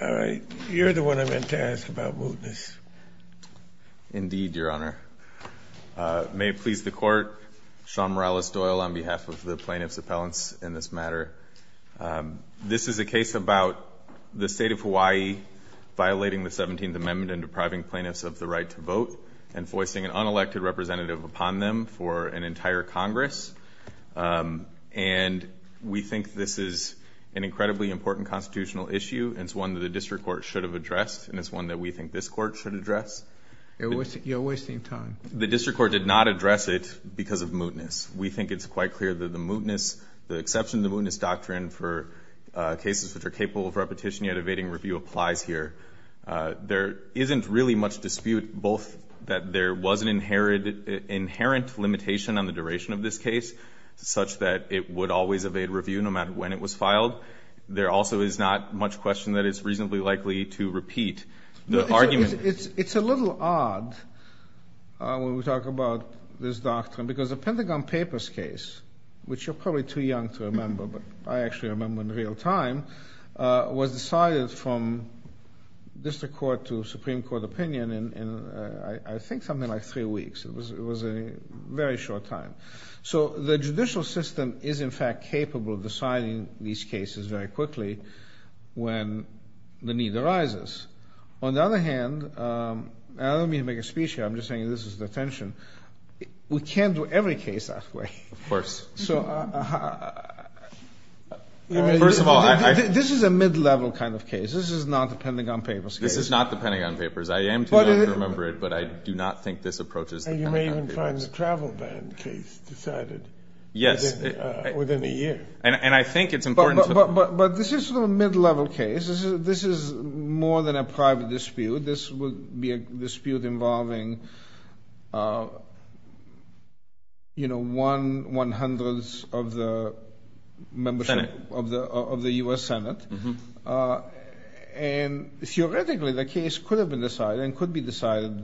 All right, you're the one I meant to ask about voteness. Indeed, Your Honor. May it please the Court, Sean Morales-Doyle on behalf of the plaintiffs' appellants in this matter. This is a case about the state of Hawaii violating the 17th Amendment and depriving plaintiffs of the right to vote and foisting an unelected representative upon them for an entire Congress. And we think this is an incredibly important constitutional issue and it's one that the District Court should have addressed and it's one that we think this Court should address. You're wasting time. The District Court did not address it because of mootness. We think it's quite clear that the mootness, the exception to the mootness doctrine for cases which are capable of repetition yet evading review applies here. There isn't really much dispute both that there was an inherent limitation on the duration of this case such that it would always evade review no matter when it was filed. There also is not much question that it's reasonably likely to repeat the argument. It's a little odd when we talk about this doctrine because the Pentagon Papers case, which you're probably too young to remember, but I actually remember in real time, was decided from District Court to Supreme Court opinion in I think something like three weeks. It was a very short time. So the judicial system is in fact capable of deciding these cases very quickly when the need arises. On the other hand, I don't mean to make a speech here, I'm just saying this is the attention. We can't do every case that way. Of course. So this is a mid-level kind of case. This is not the Pentagon Papers case. This is not the Pentagon Papers. I am too young to remember it, but I do not think this approaches the Pentagon Papers. And you may even find the travel ban case decided within a year. And I think it's important to... But this is a mid-level case. This is more than a private dispute. This would be a dispute involving, you know, one hundredth of the membership of the U.S. Senate. And theoretically the case could have been decided and could be decided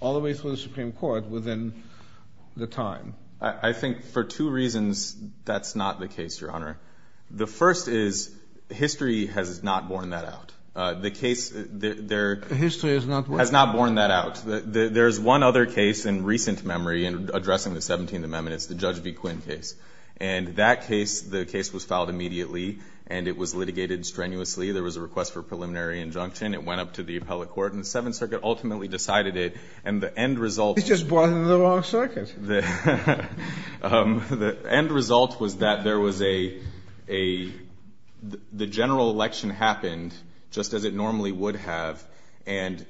all the way through the Supreme Court within the time. I think for two reasons that's not the case, Your Honor. The first is history has not borne that out. The case... History has not what? Has not borne that out. There's one other case in recent memory in addressing the 17th Amendment. It's the Judge v. Quinn case. And that case, the case was filed immediately and it was litigated strenuously. There was a request for preliminary injunction. It went up to the federal court and the Seventh Circuit ultimately decided it. And the end result... It's just brought it to the wrong circuit. The end result was that there was a... The general election happened just as it normally would have. And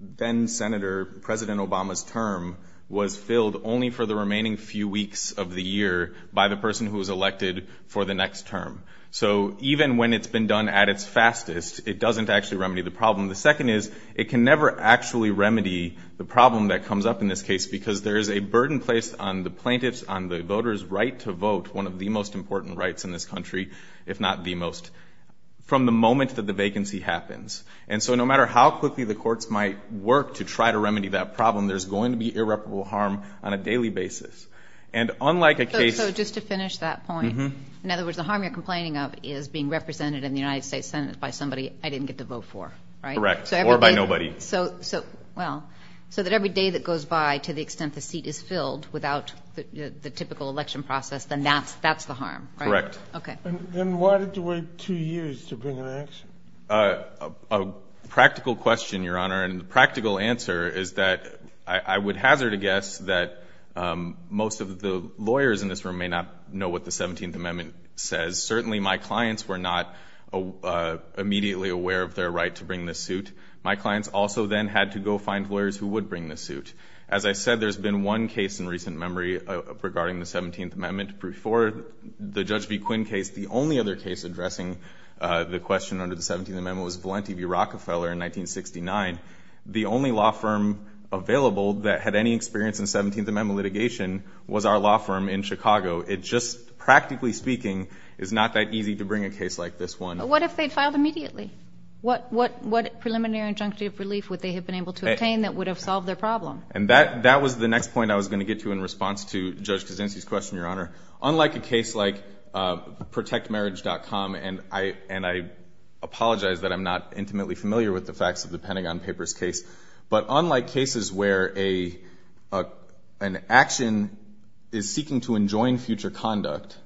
then-Senator, President Obama's term was filled only for the remaining few weeks of the year by the person who was elected for the next term. So even when it's been done at its fastest, it doesn't actually remedy the problem. The second is it can never actually remedy the problem that comes up in this case because there is a burden placed on the plaintiffs, on the voters' right to vote, one of the most important rights in this country, if not the most, from the moment that the vacancy happens. And so no matter how quickly the courts might work to try to remedy that problem, there's going to be irreparable harm on a daily basis. And unlike a case... So just to finish that point, in other words, the harm you're complaining of is being represented in the United States Senate by somebody I didn't get to vote for, right? Correct. Or by nobody. So, well, so that every day that goes by, to the extent the seat is filled without the typical election process, then that's the harm, right? Correct. Okay. Then why did you wait two years to bring an action? A practical question, Your Honor, and the practical answer is that I would hazard a guess that most of the lawyers in this room may not know what the 17th Amendment says. Certainly my clients were not immediately aware of their right to bring this suit. My clients also then had to go find lawyers who would bring this suit. As I said, there's been one case in recent memory regarding the 17th Amendment. Before the Judge B. Quinn case, the only other case addressing the question under the 17th Amendment was Valenti v. Rockefeller in 1969. The only law firm available that had any experience in 17th Amendment litigation was our law firm in Chicago. It just, practically speaking, is not that easy to bring a case like this one. What if they'd filed immediately? What preliminary injunctive relief would they have been able to obtain that would have solved their problem? And that was the next point I was going to get to in response to Judge Cazenzi's question, Your Honor. Unlike a case like ProtectMarriage.com, and I apologize that I'm not intimately familiar with the facts of the Pentagon Papers case, but unlike cases where an action is to enjoin future conduct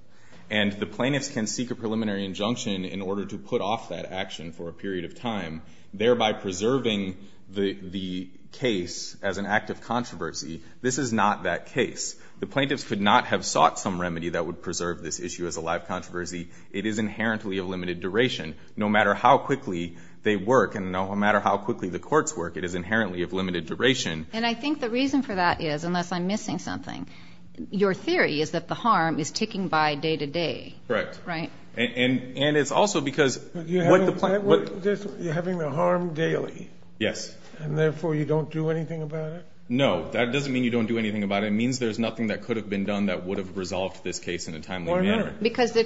and the plaintiffs can seek a preliminary injunction in order to put off that action for a period of time, thereby preserving the case as an act of controversy, this is not that case. The plaintiffs could not have sought some remedy that would preserve this issue as a live controversy. It is inherently of limited duration. No matter how quickly they work and no matter how quickly the courts work, it is inherently of limited duration. And I think the reason for that is, unless I'm missing something, your theory is that the harm is ticking by day to day. Correct. Right. And it's also because what the plaintiffs – You're having the harm daily. Yes. And therefore, you don't do anything about it? No. That doesn't mean you don't do anything about it. It means there's nothing that could have been done that would have resolved this case in a timely manner. Because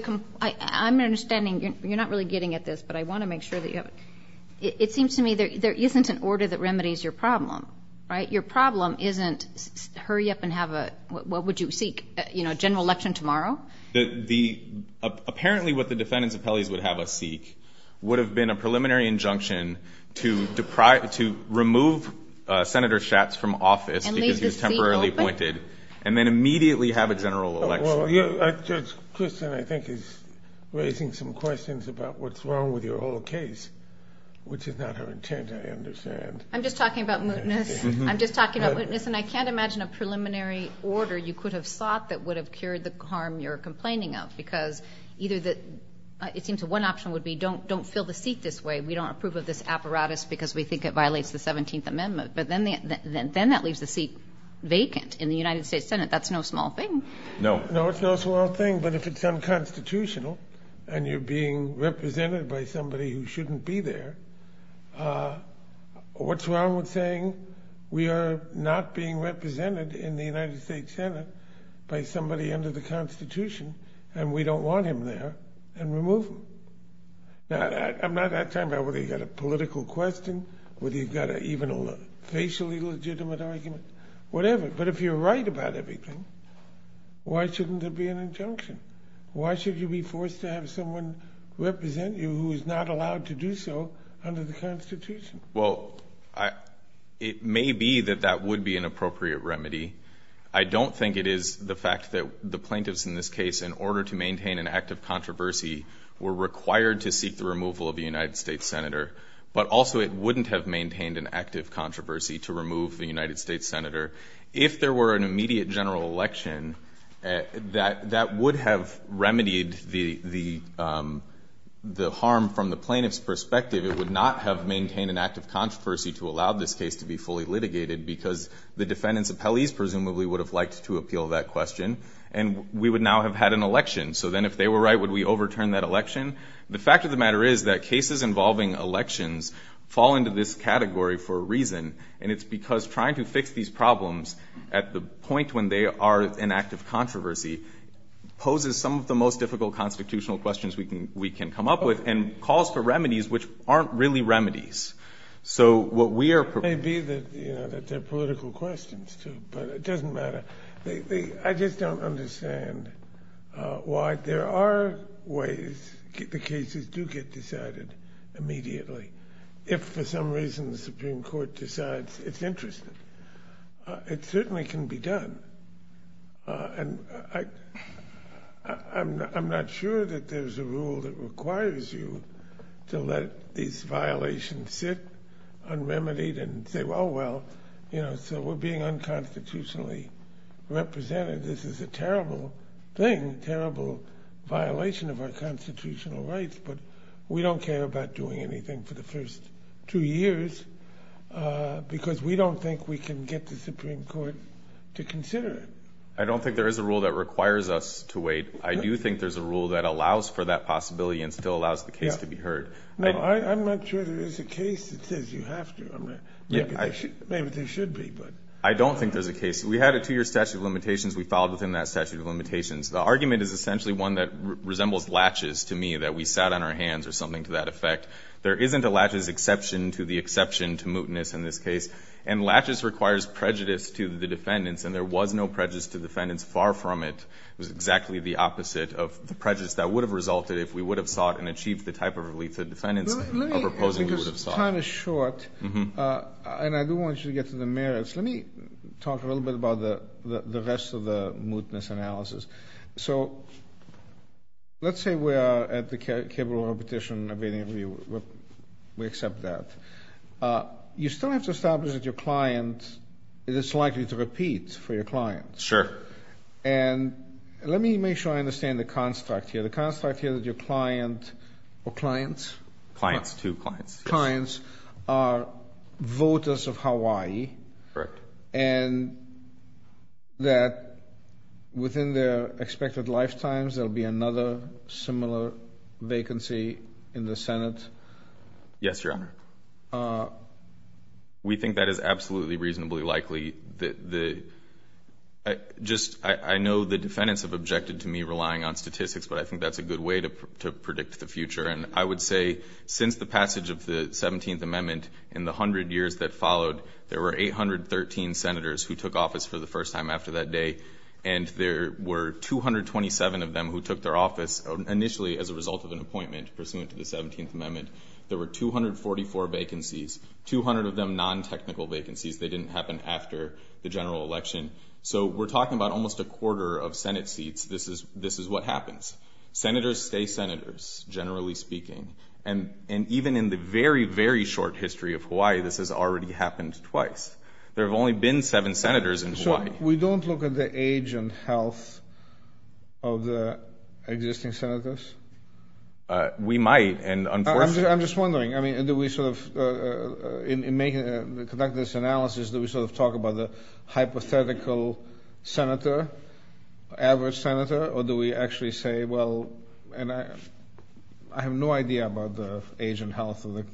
I'm understanding – you're not really getting at this, but I want to make sure that you have it. It seems to me there isn't an order that remedies your problem, right? Your problem isn't hurry up and have a – what would you seek? You know, a general election tomorrow? The – apparently what the defendants' appellees would have us seek would have been a preliminary injunction to deprive – to remove Senator Schatz from office because he was temporarily appointed. And leave the seat open? And then immediately have a general election. Well, Judge Christian, I think, is raising some questions about what's wrong with your whole case, which is not her intent, I understand. I'm just talking about mootness. I'm just talking about mootness. And I can't imagine a preliminary order you could have sought that would have cured the harm you're complaining of because either the – it seems one option would be don't fill the seat this way. We don't approve of this apparatus because we think it violates the 17th Amendment. But then that leaves the seat vacant in the United States Senate. That's no small thing. No. No, it's no small thing. But if it's unconstitutional and you're being represented by somebody who shouldn't be there, what's wrong with saying we are not being represented in the United States Senate by somebody under the Constitution and we don't want him there and remove him? Now, I'm not – I'm talking about whether you've got a political question, whether you've got a – even a facially legitimate argument, whatever. But if you're right about everything, why shouldn't there be an injunction? Why should you be forced to have someone represent you who is not allowed to do so under the Constitution? Well, it may be that that would be an appropriate remedy. I don't think it is the fact that the plaintiffs in this case, in order to maintain an active controversy, were required to seek the removal of a United States Senator. But also it wouldn't have maintained an active controversy to remove the United States Senator. If there were an immediate general election, that would have remedied the harm from the plaintiff's perspective. It would not have maintained an active controversy to allow this case to be fully litigated because the defendants' appellees presumably would have liked to appeal that question. And we would now have had an election. So then if they were right, would we overturn that election? The fact of the matter is that cases involving elections fall into this category for a reason. And it's because trying to fix these problems at the point when they are an active controversy poses some of the most difficult constitutional questions we can come up with and calls for remedies which aren't really remedies. So what we are proposing is that the plaintiffs don't understand why there are ways the cases do get decided immediately. If for some reason the Supreme Court decides it's interesting, it certainly can be done. And I'm not sure that there's a rule that requires you to let these violations sit unremedied and say, well, so we're being unconstitutionally represented. This is a terrible thing, a terrible violation of our constitutional rights. But we don't care about doing anything for the first two years because we don't think we can get the Supreme Court to consider it. I don't think there is a rule that requires us to wait. I do think there's a rule that allows for that possibility and still allows the case to be heard. No, I'm not sure there is a case that says you have to. Maybe there should be, but... I don't think there's a case. We had a two-year statute of limitations. We filed within that statute of limitations. The argument is essentially one that resembles laches to me, that we sat on our hands or something to that effect. There isn't a laches exception to the exception to mootness in this case. And laches requires prejudice to the defendants, and there was no prejudice to the defendants far from it. It was exactly the opposite of the prejudice that would have resulted if we would have sought and achieved the type of relief the defendants were proposing we would have sought. Let me, because time is short, and I do want you to get to the merits, let me talk a little bit about the rest of the mootness analysis. So let's say we are at the cable of a petition abating review. We accept that. You still have to establish that your client is likely to repeat for your client. Sure. And let me make sure I understand the construct here. The construct here is that your client or clients? Clients, two clients. Clients are voters of Hawaii. Correct. And that within their expected lifetimes there will be another similar vacancy in the Senate? Yes, Your Honor. We think that is absolutely reasonably likely. Just to give you a little bit of context, I know the defendants have objected to me relying on statistics, but I think that is a good way to predict the future. And I would say since the passage of the 17th Amendment, in the 100 years that followed, there were 813 senators who took office for the first time after that day. And there were 227 of them who took their office initially as a result of an appointment pursuant to the 17th Amendment. There were 244 vacancies, 200 of them non-technical vacancies. They didn't happen after the general election. So we're talking about almost a quarter of Senate seats. This is what happens. Senators stay senators, generally speaking. And even in the very, very short history of Hawaii, this has already happened twice. There have only been seven senators in Hawaii. So we don't look at the age and health of the existing senators? We might, and unfortunately— I'm just wondering, I mean, do we sort of—in making—conducting this analysis, do we sort of talk about the hypothetical senator, average senator, or do we actually say, well—and I have no idea about the age and health of the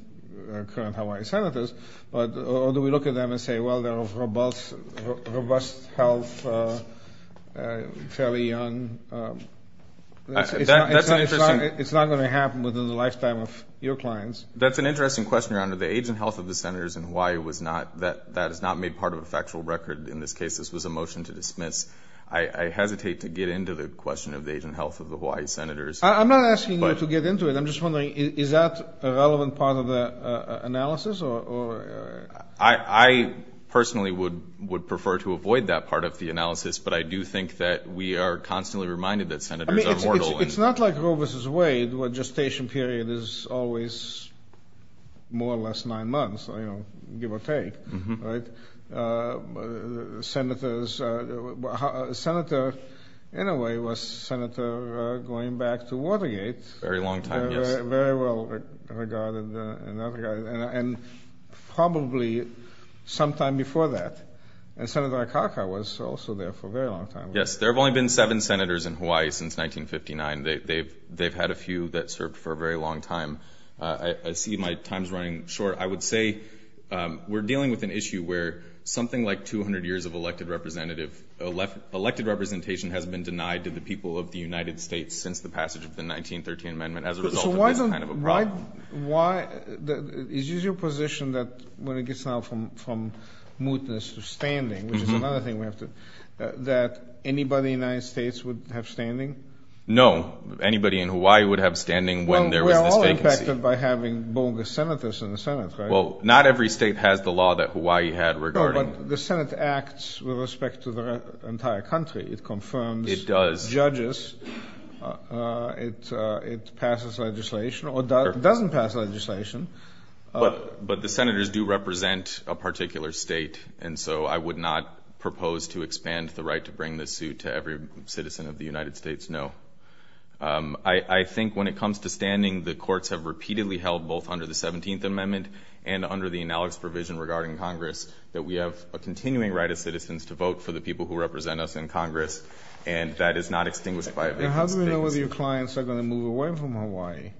current Hawaii senators—or do we look at them and say, well, they're of robust health, fairly young? It's not going to happen within the lifetime of your clients. That's an interesting question, Your Honor. The age and health of the senators in Hawaii was not—that is not made part of a factual record in this case. This was a motion to dismiss. I hesitate to get into the question of the age and health of the Hawaii senators. I'm not asking you to get into it. I'm just wondering, is that a relevant part of the analysis, or— I personally would prefer to avoid that part of the analysis, but I do think that we are constantly reminded that senators are mortal and— I mean, it's not like Roe v. Wade, where gestation period is always more or less nine months, you know, give or take, right? Senators—a senator, in a way, was a senator going back to Watergate. Very long time, yes. Very well regarded and not regarded, and probably sometime before that. And Senator Akaka was also there for a very long time. Yes, there have only been seven senators in Hawaii since 1959. They've had a few that I see my time's running short. I would say we're dealing with an issue where something like 200 years of elected representation has been denied to the people of the United States since the passage of the 1913 amendment as a result of this kind of a problem. So why—is your position that, when it gets now from mootness to standing, which is another thing we have to—that anybody in the United States would have standing? No. Anybody in Hawaii would have standing when there was this vacancy. Well, we're all impacted by having bogus senators in the Senate, right? Well, not every state has the law that Hawaii had regarding— No, but the Senate acts with respect to the entire country. It confirms— It does. Judges. It passes legislation, or doesn't pass legislation. But the senators do represent a particular state, and so I would not propose to expand the right to bring this suit to every citizen of the United States, no. I think when it comes to standing, the courts have repeatedly held, both under the 17th amendment and under the analogous provision regarding Congress, that we have a continuing right as citizens to vote for the people who represent us in Congress, and that is not extinguished by a vacancy. How do we know whether your clients are going to move away from Hawaii?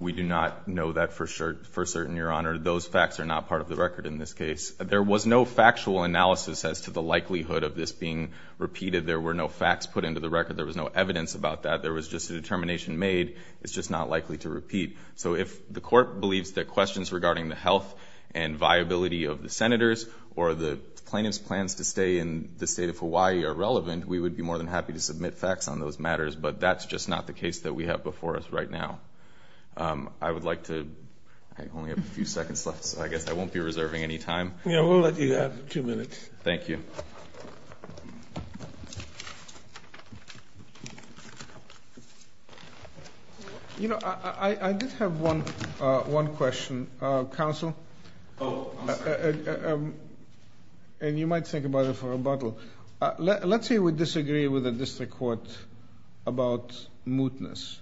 We do not know that for certain, Your Honor. Those facts are not part of the record in this case. There was no factual analysis as to the likelihood of this being repeated. There were no facts put into the record. There was no evidence about that. There was just a determination made. It's just not likely to repeat. So if the court believes that questions regarding the health and viability of the senators or the plaintiff's plans to stay in the state of Hawaii are relevant, we would be more than happy to submit facts on those matters, but that's just not the case that we have before us right now. I would like to, I only have a few seconds left, so I guess I won't be reserving any time. Yeah, we'll let you have two minutes. Thank you. You know, I did have one question. Counsel? Oh, I'm sorry. And you might think about it for rebuttal. Let's say we disagree with the district court about mootness.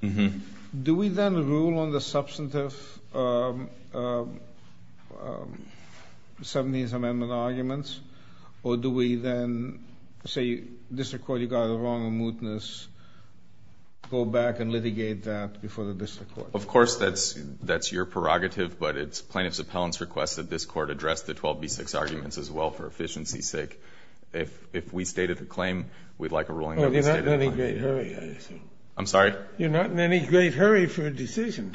Do we then rule on the substantive 70th Amendment arguments, or do we then say, district court, you got it wrong on mootness, go back and litigate that before the district court? Of course, that's your prerogative, but it's plaintiff's appellant's request that this court address the 12b6 arguments as well for efficiency's sake. If we stated the claim, we'd like a ruling that we stated the claim. You're not in any great hurry, I assume. I'm sorry? You're not in any great hurry for a decision.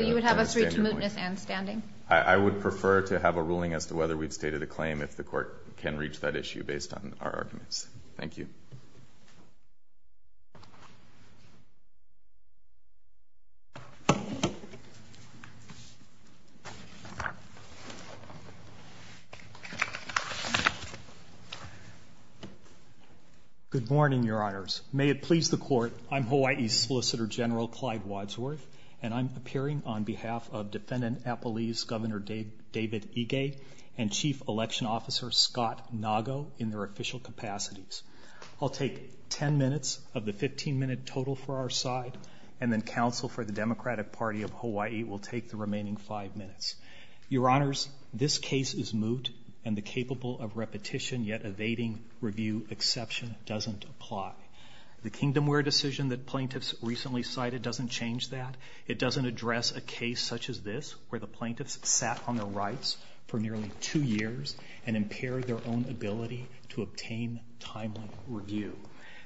You would have us read to mootness and standing? I would prefer to have a ruling as to whether we've stated a claim if the court can reach that issue based on our arguments. Thank you. Good morning, Your Honors. May it please the court, I'm Hawaii Solicitor General Clyde Wadsworth, and I'm appearing on behalf of Defendant Appellee's Governor David Ige and Chief Election Officer Scott Nago in their official capacities. I'll take 10 minutes of the 15-minute total for our side, and then counsel for the Democratic Party of Hawaii will take the remaining 5 minutes. Your Honors, this case is moot, and the capable of repetition yet evading review exception doesn't apply. The Kingdomware decision that plaintiffs recently cited doesn't change that. It doesn't address a case such as this, where the plaintiffs sat on the rights for nearly two years and impaired their own ability to obtain timely review.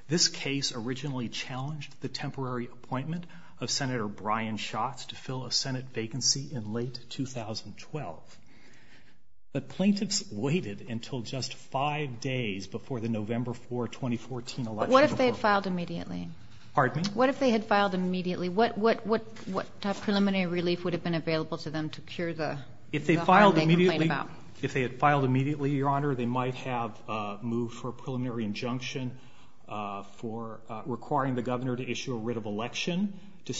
This case originally challenged the temporary appointment of Senator Brian Schatz to fill a Senate vacancy in late 2012, but plaintiffs waited until just five days before the November 4, 2014 election. But what if they had filed immediately? Pardon me? What if they had filed immediately? What preliminary relief would have been available to them to cure the harm they caused? If they filed immediately, Your Honor, they might have moved for a preliminary injunction for requiring the Governor to issue a writ of election to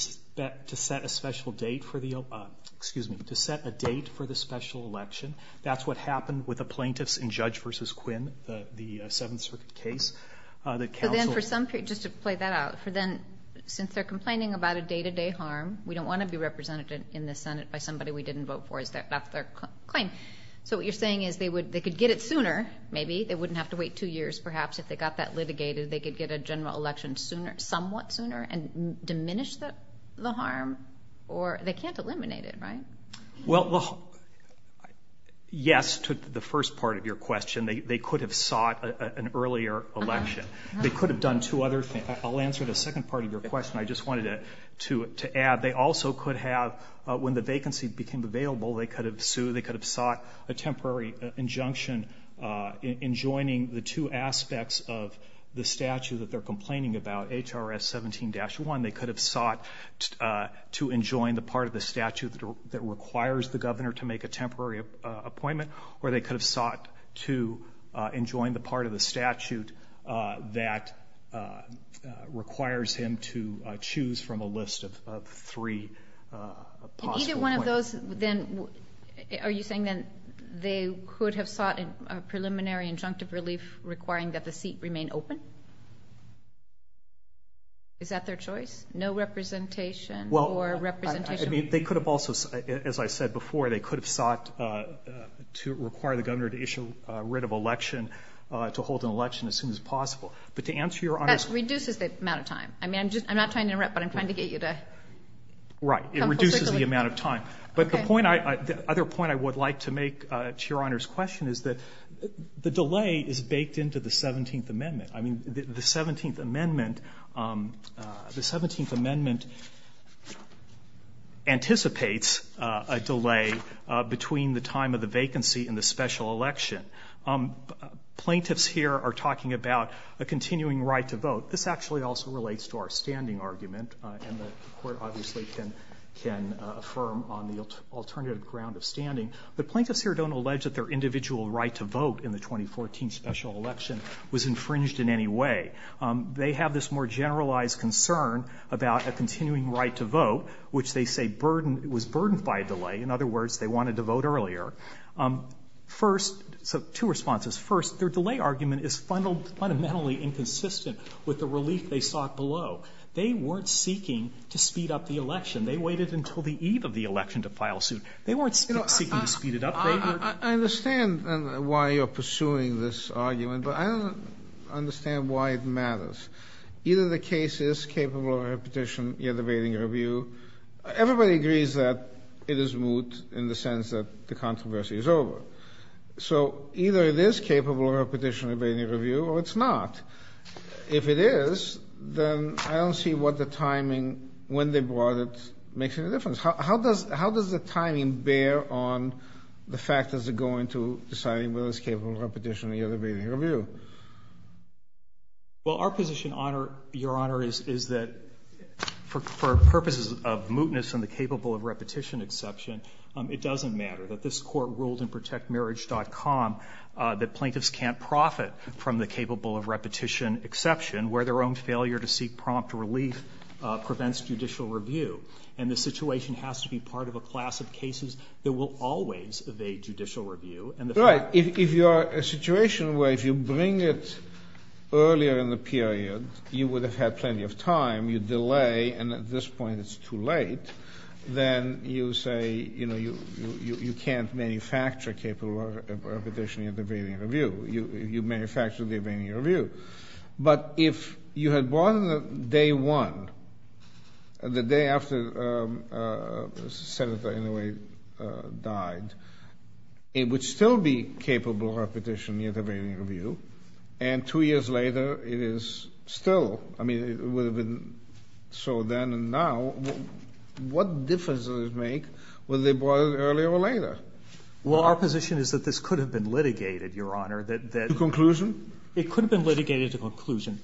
set a special date for the special election. That's what happened with the plaintiffs in Judge v. Quinn, the Seventh Circuit case. But then for some people, just to play that out, since they're complaining about a day-to-day harm, we don't want to be represented in the Senate by somebody we didn't vote for. That's their claim. So what you're saying is they could get it sooner, maybe. They wouldn't have to wait two years, perhaps. If they got that litigated, they could get a general election somewhat sooner and diminish the harm, or they can't eliminate it, right? Well, yes to the first part of your question. They could have sought an earlier election. They could have done two other things. I'll answer the second part of your question I just wanted to add. They also could have, when the vacancy became available, they could have sought a temporary injunction in joining the two aspects of the statute that they're complaining about, H.R.S. 17-1. They could have sought to enjoin the part of the statute that requires the Governor to make a temporary appointment, or they could have sought to enjoin the And either one of those, then, are you saying then they could have sought a preliminary injunctive relief requiring that the seat remain open? Is that their choice? No representation or representation? Well, I mean, they could have also, as I said before, they could have sought to require the Governor to issue a writ of election, to hold an election as soon as possible. But to answer your honest question. That reduces the amount of time. I mean, I'm not trying to interrupt, but I'm trying to get you to come full circle. Right. It reduces the amount of time. But the other point I would like to make to Your Honor's question is that the delay is baked into the 17th Amendment. I mean, the 17th Amendment anticipates a delay between the time of the vacancy and the special election. Plaintiffs here are talking about a continuing right to vote. This actually also relates to our standing argument, and the Court obviously can affirm on the alternative ground of standing. The plaintiffs here don't allege that their individual right to vote in the 2014 special election was infringed in any way. They have this more generalized concern about a continuing right to vote, which they say burdened, was burdened by a delay. In other words, they wanted to vote earlier. First, so two responses. First, their delay argument is fundamentally inconsistent with the relief they sought below. They weren't seeking to speed up the election. They waited until the eve of the election to file suit. They weren't seeking to speed it up. They were ---- I understand why you're pursuing this argument, but I don't understand why it matters. Either the case is capable of repetition, yet awaiting review. Everybody agrees that it is moot in the sense that the controversy is over. So either it is capable of repetition, yet awaiting review, or it's not. If it is, then I don't see what the timing, when they brought it, makes any difference. How does the timing bear on the factors that go into deciding whether it's capable of repetition, yet awaiting review? Well, our position, Your Honor, is that for purposes of mootness and the capable of repetition exception, it doesn't matter. That this Court ruled in ProtectMarriage.com that plaintiffs can't profit from the capable of repetition exception, where their own failure to seek prompt relief prevents judicial review. And the situation has to be part of a class of cases that will always evade judicial review. And the fact ---- Right. If you are a situation where if you bring it earlier in the period, you would have had plenty of time. You delay, and at this point it's too late. Then you say, you know, you can't manufacture capable of repetition, yet awaiting review. You manufacture, yet awaiting review. But if you had brought it on day one, the day after Senator Inouye died, it would still be capable of repetition, yet awaiting review. And two years later, it is still. I mean, it would have been so then and now. What difference does it make whether they brought it earlier or later? Well, our position is that this could have been litigated, Your Honor, that ---- To conclusion? It could have been litigated to conclusion.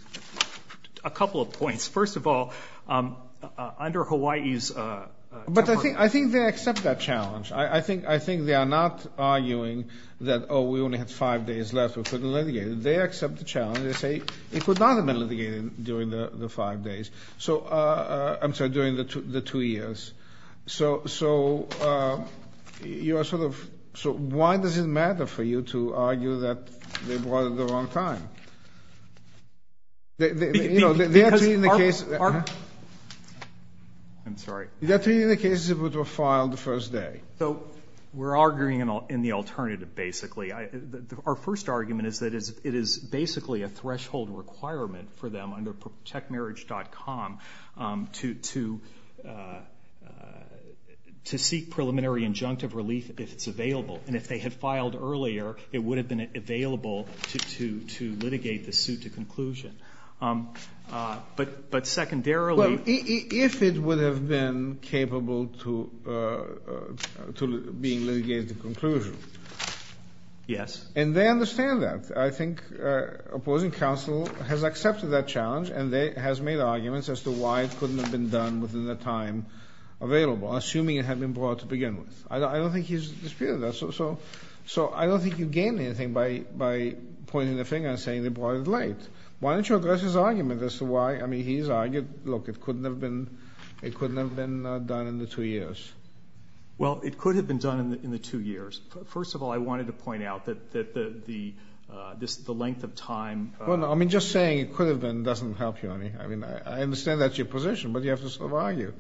A couple of points. First of all, under Hawaii's ---- But I think they accept that challenge. I think they are not arguing that, oh, we only had five days left. We couldn't litigate it. They accept the challenge. And they say it could not have been litigated during the five days. So ---- I'm sorry, during the two years. So you are sort of ---- so why does it matter for you to argue that they brought it the wrong time? You know, they are treating the case ---- Because our ---- I'm sorry. They are treating the case as if it were filed the first day. So we're arguing in the alternative, basically. Our first argument is that it is basically a threshold requirement for them under protectmarriage.com to seek preliminary injunctive relief if it's available. And if they had filed earlier, it would have been available to litigate the suit to conclusion. But secondarily ---- to being litigated to conclusion. Yes. And they understand that. I think opposing counsel has accepted that challenge and they ---- has made arguments as to why it couldn't have been done within the time available, assuming it had been brought to begin with. I don't think he's disputing that. So I don't think you gain anything by pointing the finger and saying they brought it late. Why don't you address his argument as to why, I mean, he's argued, look, it couldn't have been done in the two years. Well, it could have been done in the two years. First of all, I wanted to point out that the length of time ---- Well, no, I mean, just saying it could have been doesn't help you any. I mean, I understand that's your position, but you have to sort of argue.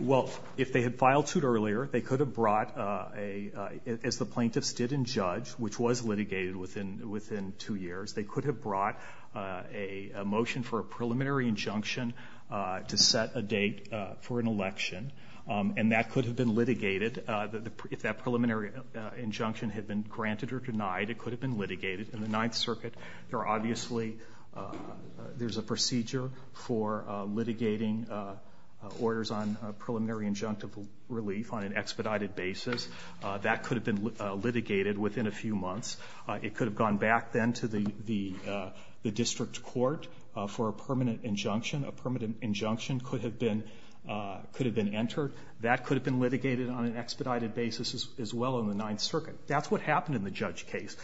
Well, if they had filed suit earlier, they could have brought a ---- as the plaintiff stood and judged, which was litigated within two years, they could have brought a motion for a preliminary injunction to set a date for an election, and that could have been litigated. If that preliminary injunction had been granted or denied, it could have been litigated. In the Ninth Circuit, there are obviously ---- there's a procedure for litigating orders on preliminary injunctive relief on an expedited basis. That could have been litigated within a few months. It could have gone back then to the district court for a permanent injunction. A permanent injunction could have been entered. That could have been litigated on an expedited basis as well in the Ninth Circuit. That's what happened in the judge case.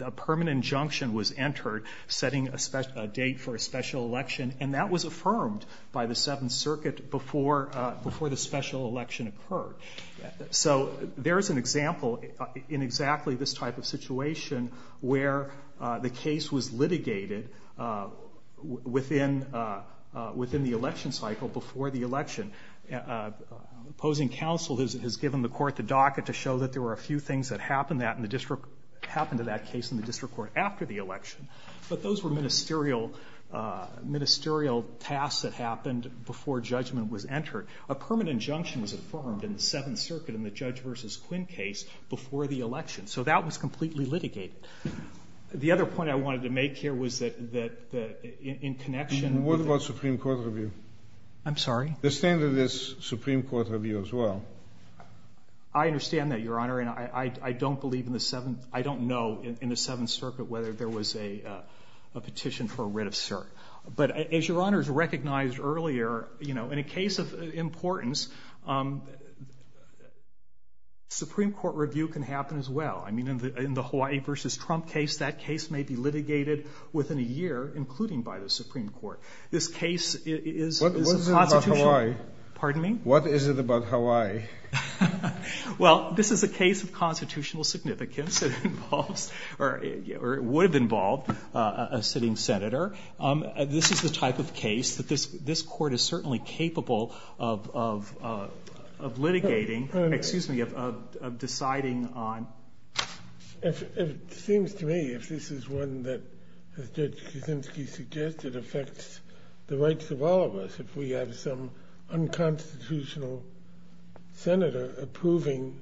A permanent injunction was entered setting a date for a special election, and that was affirmed by the Seventh Circuit before the special election occurred. So there is an example in exactly this type of situation where the case was litigated within the election cycle before the election. Opposing counsel has given the court the docket to show that there were a few things that happened to that case in the district court after the election, but those were ministerial tasks that happened before judgment was entered. A permanent injunction was affirmed in the Seventh Circuit in the Judge v. Quinn case before the election, so that was completely litigated. The other point I wanted to make here was that in connection with the ---- Kennedy, what about Supreme Court review? I'm sorry? The standard is Supreme Court review as well. I understand that, Your Honor, and I don't believe in the Seventh ---- I don't know about the Supreme Court, but as Your Honor has recognized earlier, you know, in a case of importance, Supreme Court review can happen as well. I mean, in the Hawaii v. Trump case, that case may be litigated within a year, including by the Supreme Court. This case is a constitutional ---- What is it about Hawaii? Pardon me? What is it about Hawaii? Well, this is a case of constitutional significance. It involves or would have involved a sitting senator. This is the type of case that this Court is certainly capable of litigating, excuse me, of deciding on. It seems to me, if this is one that, as Judge Kuczynski suggested, affects the rights of all of us, if we have some unconstitutional senator approving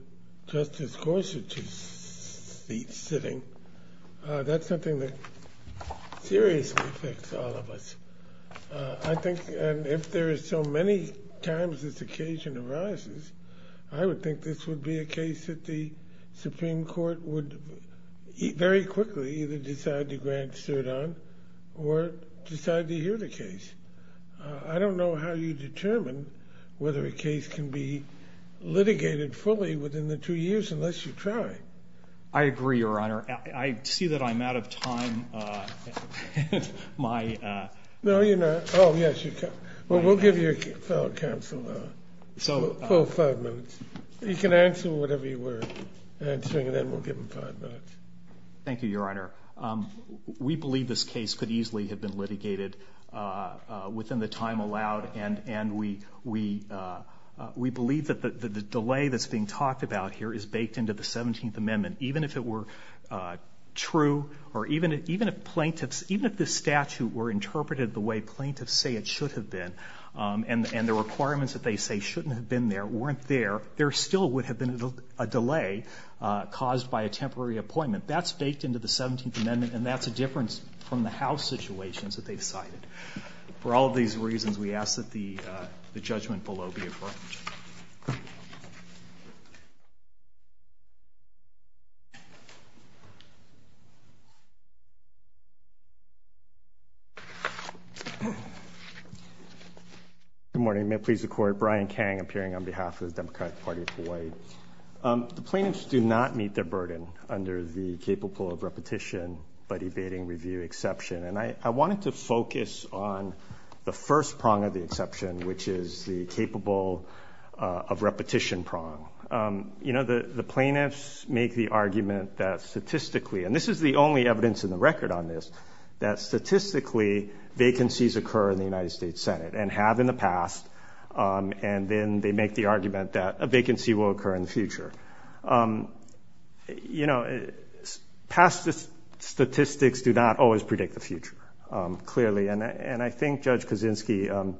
Justice Gorsuch's seat sitting, that's something that seriously affects all of us. I think, and if there is so many times this occasion arises, I would think this would be a case that the Supreme Court would very quickly either decide to grant cert on or decide to hear the case. I don't know how you determine whether a case can be litigated fully within the two years unless you try. I agree, Your Honor. I see that I'm out of time. No, you're not. Oh, yes, you can. Well, we'll give your fellow counsel a full five minutes. You can answer whatever you were answering, and then we'll give him five minutes. Thank you, Your Honor. We believe this case could easily have been litigated within the time allowed, and we believe that the delay that's being talked about here is baked into the 17th Amendment. Even if it were true, or even if plaintiffs, even if this statute were interpreted the way plaintiffs say it should have been, and the requirements that they say shouldn't have been there weren't there, there still would have been a delay caused by a temporary appointment. That's baked into the 17th Amendment, and that's a difference from the House situations that they've cited. For all of these reasons, we ask that the judgment below be affirmed. Good morning. May it please the Court. Brian Kang, appearing on behalf of the Democratic Party of Hawaii. The plaintiffs do not meet their burden under the capable of repetition but evading review exception, and I wanted to focus on the first prong of the exception, which is the capable of repetition prong. You know, the plaintiffs make the argument that statistically, and this is the only evidence in the record on this, that statistically vacancies occur in the United States Senate and have in the past, and then they make the argument that a vacancy will occur in the future. You know, past statistics do not always predict the future, clearly, and I think, Judge Kaczynski,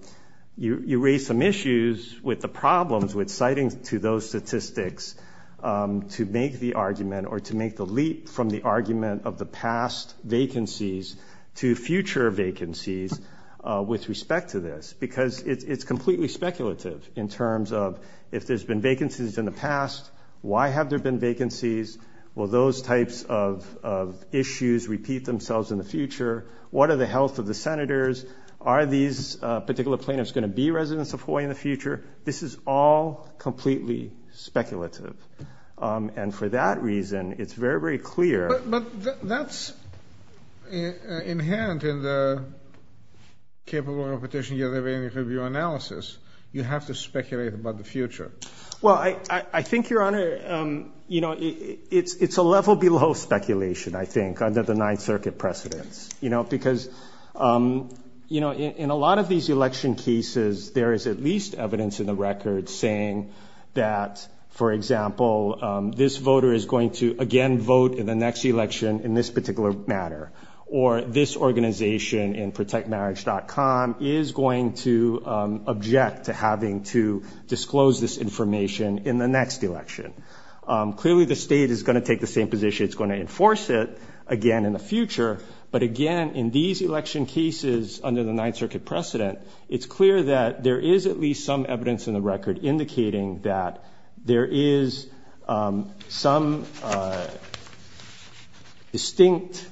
you raise some issues with the problems with citing to those statistics to make the argument or to make the leap from the argument of the past vacancies to future vacancies with respect to this, because it's completely speculative in terms of if there's been vacancies in the past, why have there been vacancies? Will those types of issues repeat themselves in the future? What are the health of the senators? Are these particular plaintiffs going to be residents of Hawaii in the future? This is all completely speculative, and for that reason, it's very, very clear. But that's inherent in the capable of repetition yet evading review analysis. You have to speculate about the future. Well, I think, Your Honor, you know, it's a level below speculation, I think, under the Ninth Circuit precedence, you know, because, you know, in a lot of these election cases there is at least evidence in the record saying that, for example, this voter is going to again vote in the next election in this particular matter, or this organization in protectmarriage.com is going to object to having to disclose this information in the next election. Clearly, the state is going to take the same position. It's going to enforce it again in the future. But, again, in these election cases under the Ninth Circuit precedent, it's clear that there is at least some evidence in the record indicating that there is some distinct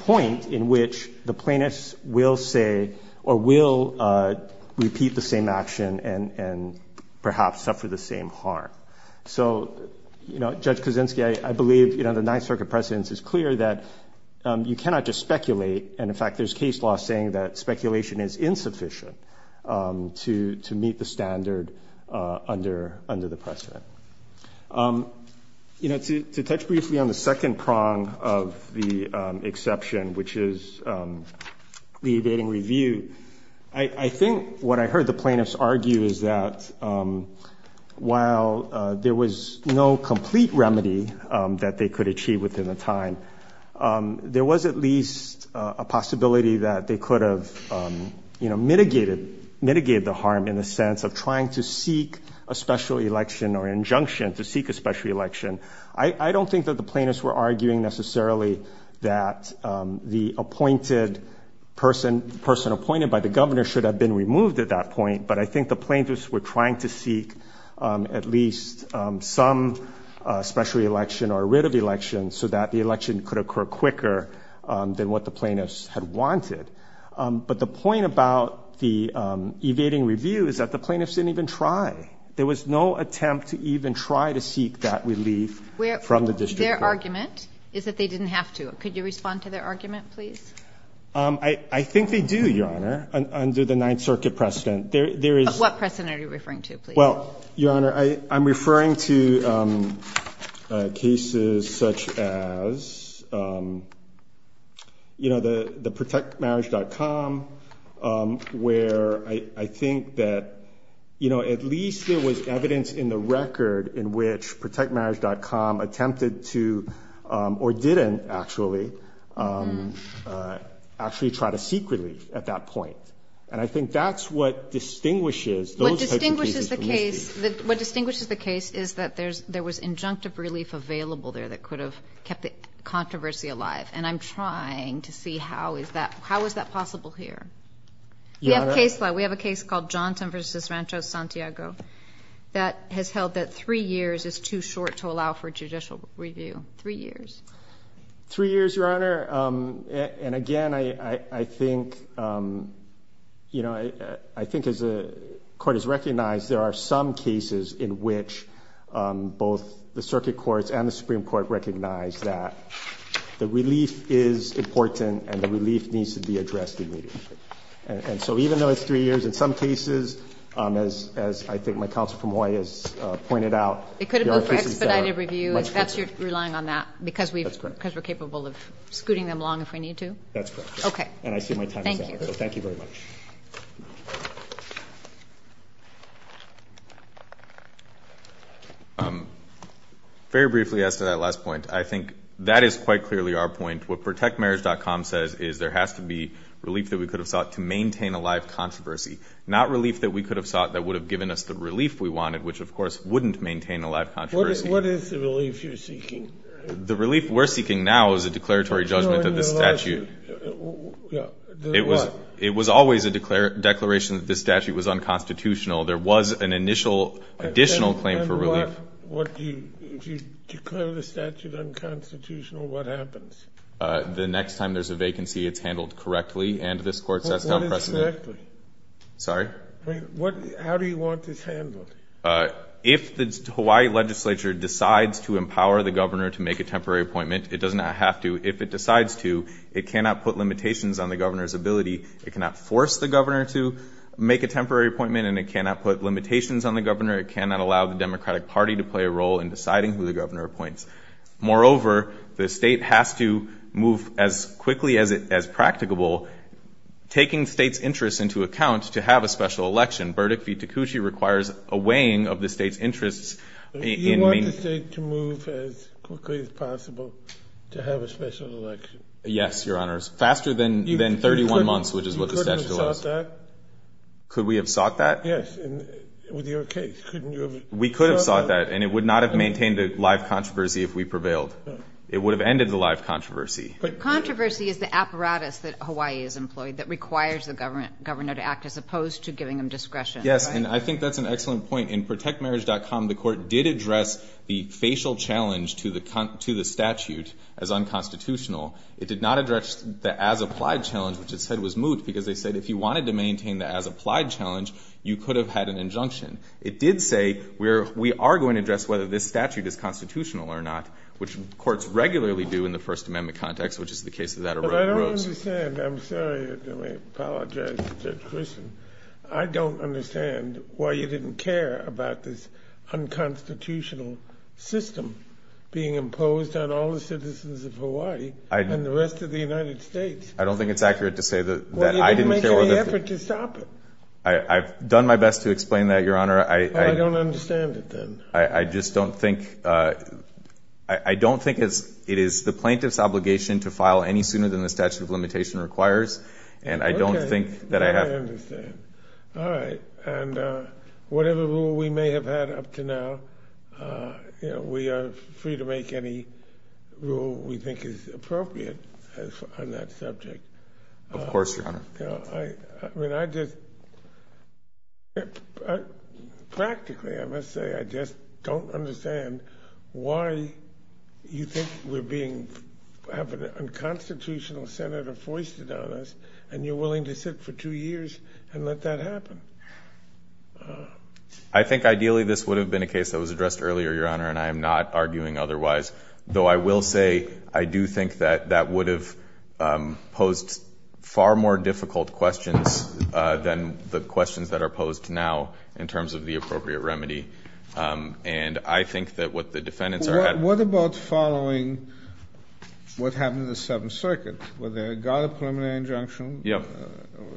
point in which the plaintiffs will say or will repeat the same action and perhaps suffer the same harm. So, you know, Judge Kuczynski, I believe, you know, the Ninth Circuit precedence is clear that you cannot just speculate. And, in fact, there's case law saying that speculation is insufficient to meet the standard under the precedent. You know, to touch briefly on the second prong of the exception, which is the abating review, I think what I heard the plaintiffs argue is that while there was no complete remedy that they could achieve within the time, there was at least a possibility that they could have, you know, mitigated the harm in the sense of trying to seek a special election or injunction to seek a special election. I don't think that the plaintiffs were arguing necessarily that the person appointed by the governor should have been removed at that point. But I think the plaintiffs were trying to seek at least some special election or a writ of election so that the election could occur quicker than what the plaintiffs had wanted. But the point about the evading review is that the plaintiffs didn't even try. There was no attempt to even try to seek that relief from the district court. Where their argument is that they didn't have to. Could you respond to their argument, please? I think they do, Your Honor, under the Ninth Circuit precedent. What precedent are you referring to, please? Well, Your Honor, I'm referring to cases such as, you know, the protectmarriage.com where I think that, you know, at least there was evidence in the record in which protectmarriage.com attempted to, or didn't actually, actually try to seek relief at that point. And I think that's what distinguishes those types of cases from this case. What distinguishes the case is that there was injunctive relief available there that could have kept the controversy alive. And I'm trying to see how is that possible here. Your Honor? We have a case law. We have a case called Johnson v. Rancho Santiago that has held that three years is too short to allow for judicial review. Three years. Three years, Your Honor. And again, I think, you know, I think as the court has recognized, there are some cases in which both the circuit courts and the Supreme Court recognize that the relief is important and the relief needs to be addressed immediately. And so even though it's three years, in some cases, as I think my counsel from Hawaii has pointed out, there are cases that are much longer. It could have been for expedited review. That's your relying on that because we're capable of scooting them along if we need to? That's correct. Okay. And I see my time is up. Thank you. So thank you very much. Very briefly as to that last point, I think that is quite clearly our point. What protectmarriage.com says is there has to be relief that we could have sought to maintain a live controversy, not relief that we could have sought that would have given us the relief we wanted, which, of course, wouldn't maintain a live controversy. What is the relief you're seeking? The relief we're seeking now is a declaratory judgment of the statute. It was always a declaration that this statute was unconstitutional. There was an initial additional claim for relief. If you declare the statute unconstitutional, what happens? The next time there's a vacancy, it's handled correctly. And this Court says how precedent. What is correctly? Sorry? How do you want this handled? If the Hawaii legislature decides to empower the governor to make a temporary appointment, it does not have to. If it decides to, it cannot put limitations on the governor's ability. It cannot force the governor to make a temporary appointment, and it cannot put limitations on the governor. It cannot allow the Democratic Party to play a role in deciding who the governor appoints. Moreover, the State has to move as quickly as practicable, taking the State's interests into account to have a special election. Verdict v. Takushi requires a weighing of the State's interests in maintaining. You want the State to move as quickly as possible to have a special election? Yes, Your Honors. Faster than 31 months, which is what the statute allows. Could we have sought that? Could we have sought that? Yes, and with your case, couldn't you have sought that? We could have sought that, and it would not have maintained a live controversy if we prevailed. It would have ended the live controversy. But controversy is the apparatus that Hawaii has employed that requires the governor to act as opposed to giving him discretion. Yes, and I think that's an excellent point. In ProtectMarriage.com, the Court did address the facial challenge to the statute as unconstitutional. It did not address the as-applied challenge, which it said was moot, because they said if you wanted to maintain the as-applied challenge, you could have had an injunction. It did say we are going to address whether this statute is constitutional or not, which courts regularly do in the First Amendment context, which is the case that that arose. But I don't understand. I'm sorry if I may apologize to Judge Christian. I don't understand why you didn't care about this unconstitutional system being imposed on all the citizens of Hawaii and the rest of the United States. I don't think it's accurate to say that I didn't care. I've done my best to explain that, Your Honor. I don't understand it, then. I just don't think it is the plaintiff's obligation to file any sooner than the statute of limitation requires, and I don't think that I have. Okay. I understand. All right. And whatever rule we may have had up to now, we are free to make any rule we think is appropriate on that subject. Of course, Your Honor. I mean, I just – practically, I must say, I just don't understand why you think we're being – have an unconstitutional senator foisted on us, and you're willing to sit for two years and let that happen. I think ideally this would have been a case that was addressed earlier, Your Honor, and I am not arguing otherwise, though I will say I do think that that would have posed far more difficult questions than the questions that are posed now in terms of the appropriate remedy. And I think that what the defendants are – What about following what happened in the Seventh Circuit? Were there – got a preliminary injunction? Yes.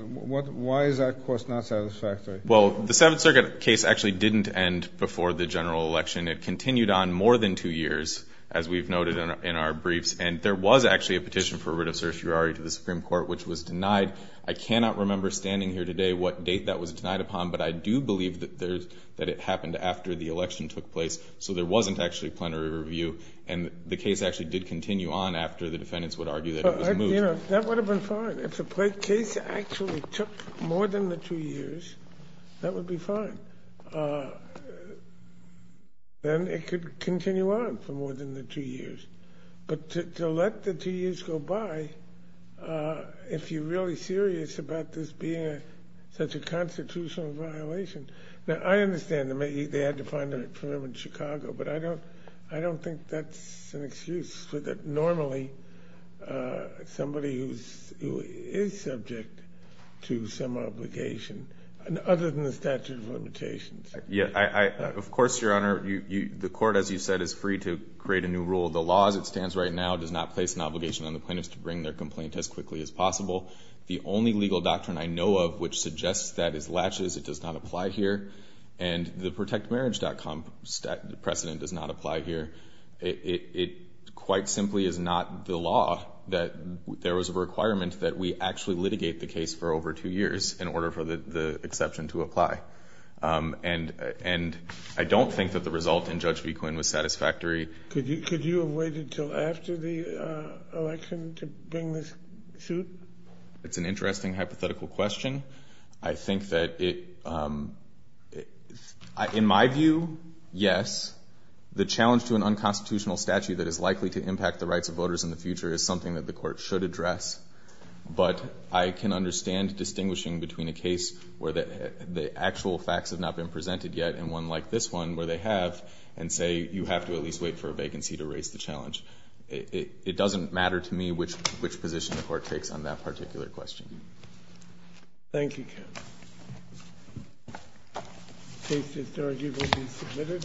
Why is that, of course, not satisfactory? Well, the Seventh Circuit case actually didn't end before the general election. It continued on more than two years, as we've noted in our briefs. And there was actually a petition for writ of certiorari to the Supreme Court, which was denied. I cannot remember standing here today what date that was denied upon, but I do believe that there's – that it happened after the election took place. So there wasn't actually a plenary review, and the case actually did continue on after the defendants would argue that it was moved. That would have been fine. If the case actually took more than the two years, that would be fine. Then it could continue on for more than the two years. But to let the two years go by, if you're really serious about this being such a constitutional violation – Now, I understand they had to find a permit in Chicago, but I don't think that's an excuse for normally somebody who is subject to some obligation other than the statute of limitations. Of course, Your Honor, the court, as you said, is free to create a new rule. The law as it stands right now does not place an obligation on the plaintiffs to bring their complaint as quickly as possible. The only legal doctrine I know of which suggests that is Latches. It does not apply here. And the protectmarriage.com precedent does not apply here. It quite simply is not the law that there was a requirement that we actually litigate the case for over two years in order for the exception to apply. And I don't think that the result in Judge B. Quinn was satisfactory. Could you have waited until after the election to bring this suit? It's an interesting hypothetical question. I think that it – in my view, yes, the challenge to an unconstitutional statute that is likely to impact the rights of voters in the future is something that the court should address. But I can understand distinguishing between a case where the actual facts have not been presented yet and one like this one where they have and say you have to at least wait for a vacancy to raise the challenge. It doesn't matter to me which position the court takes on that particular question. Thank you. The case is arguably submitted.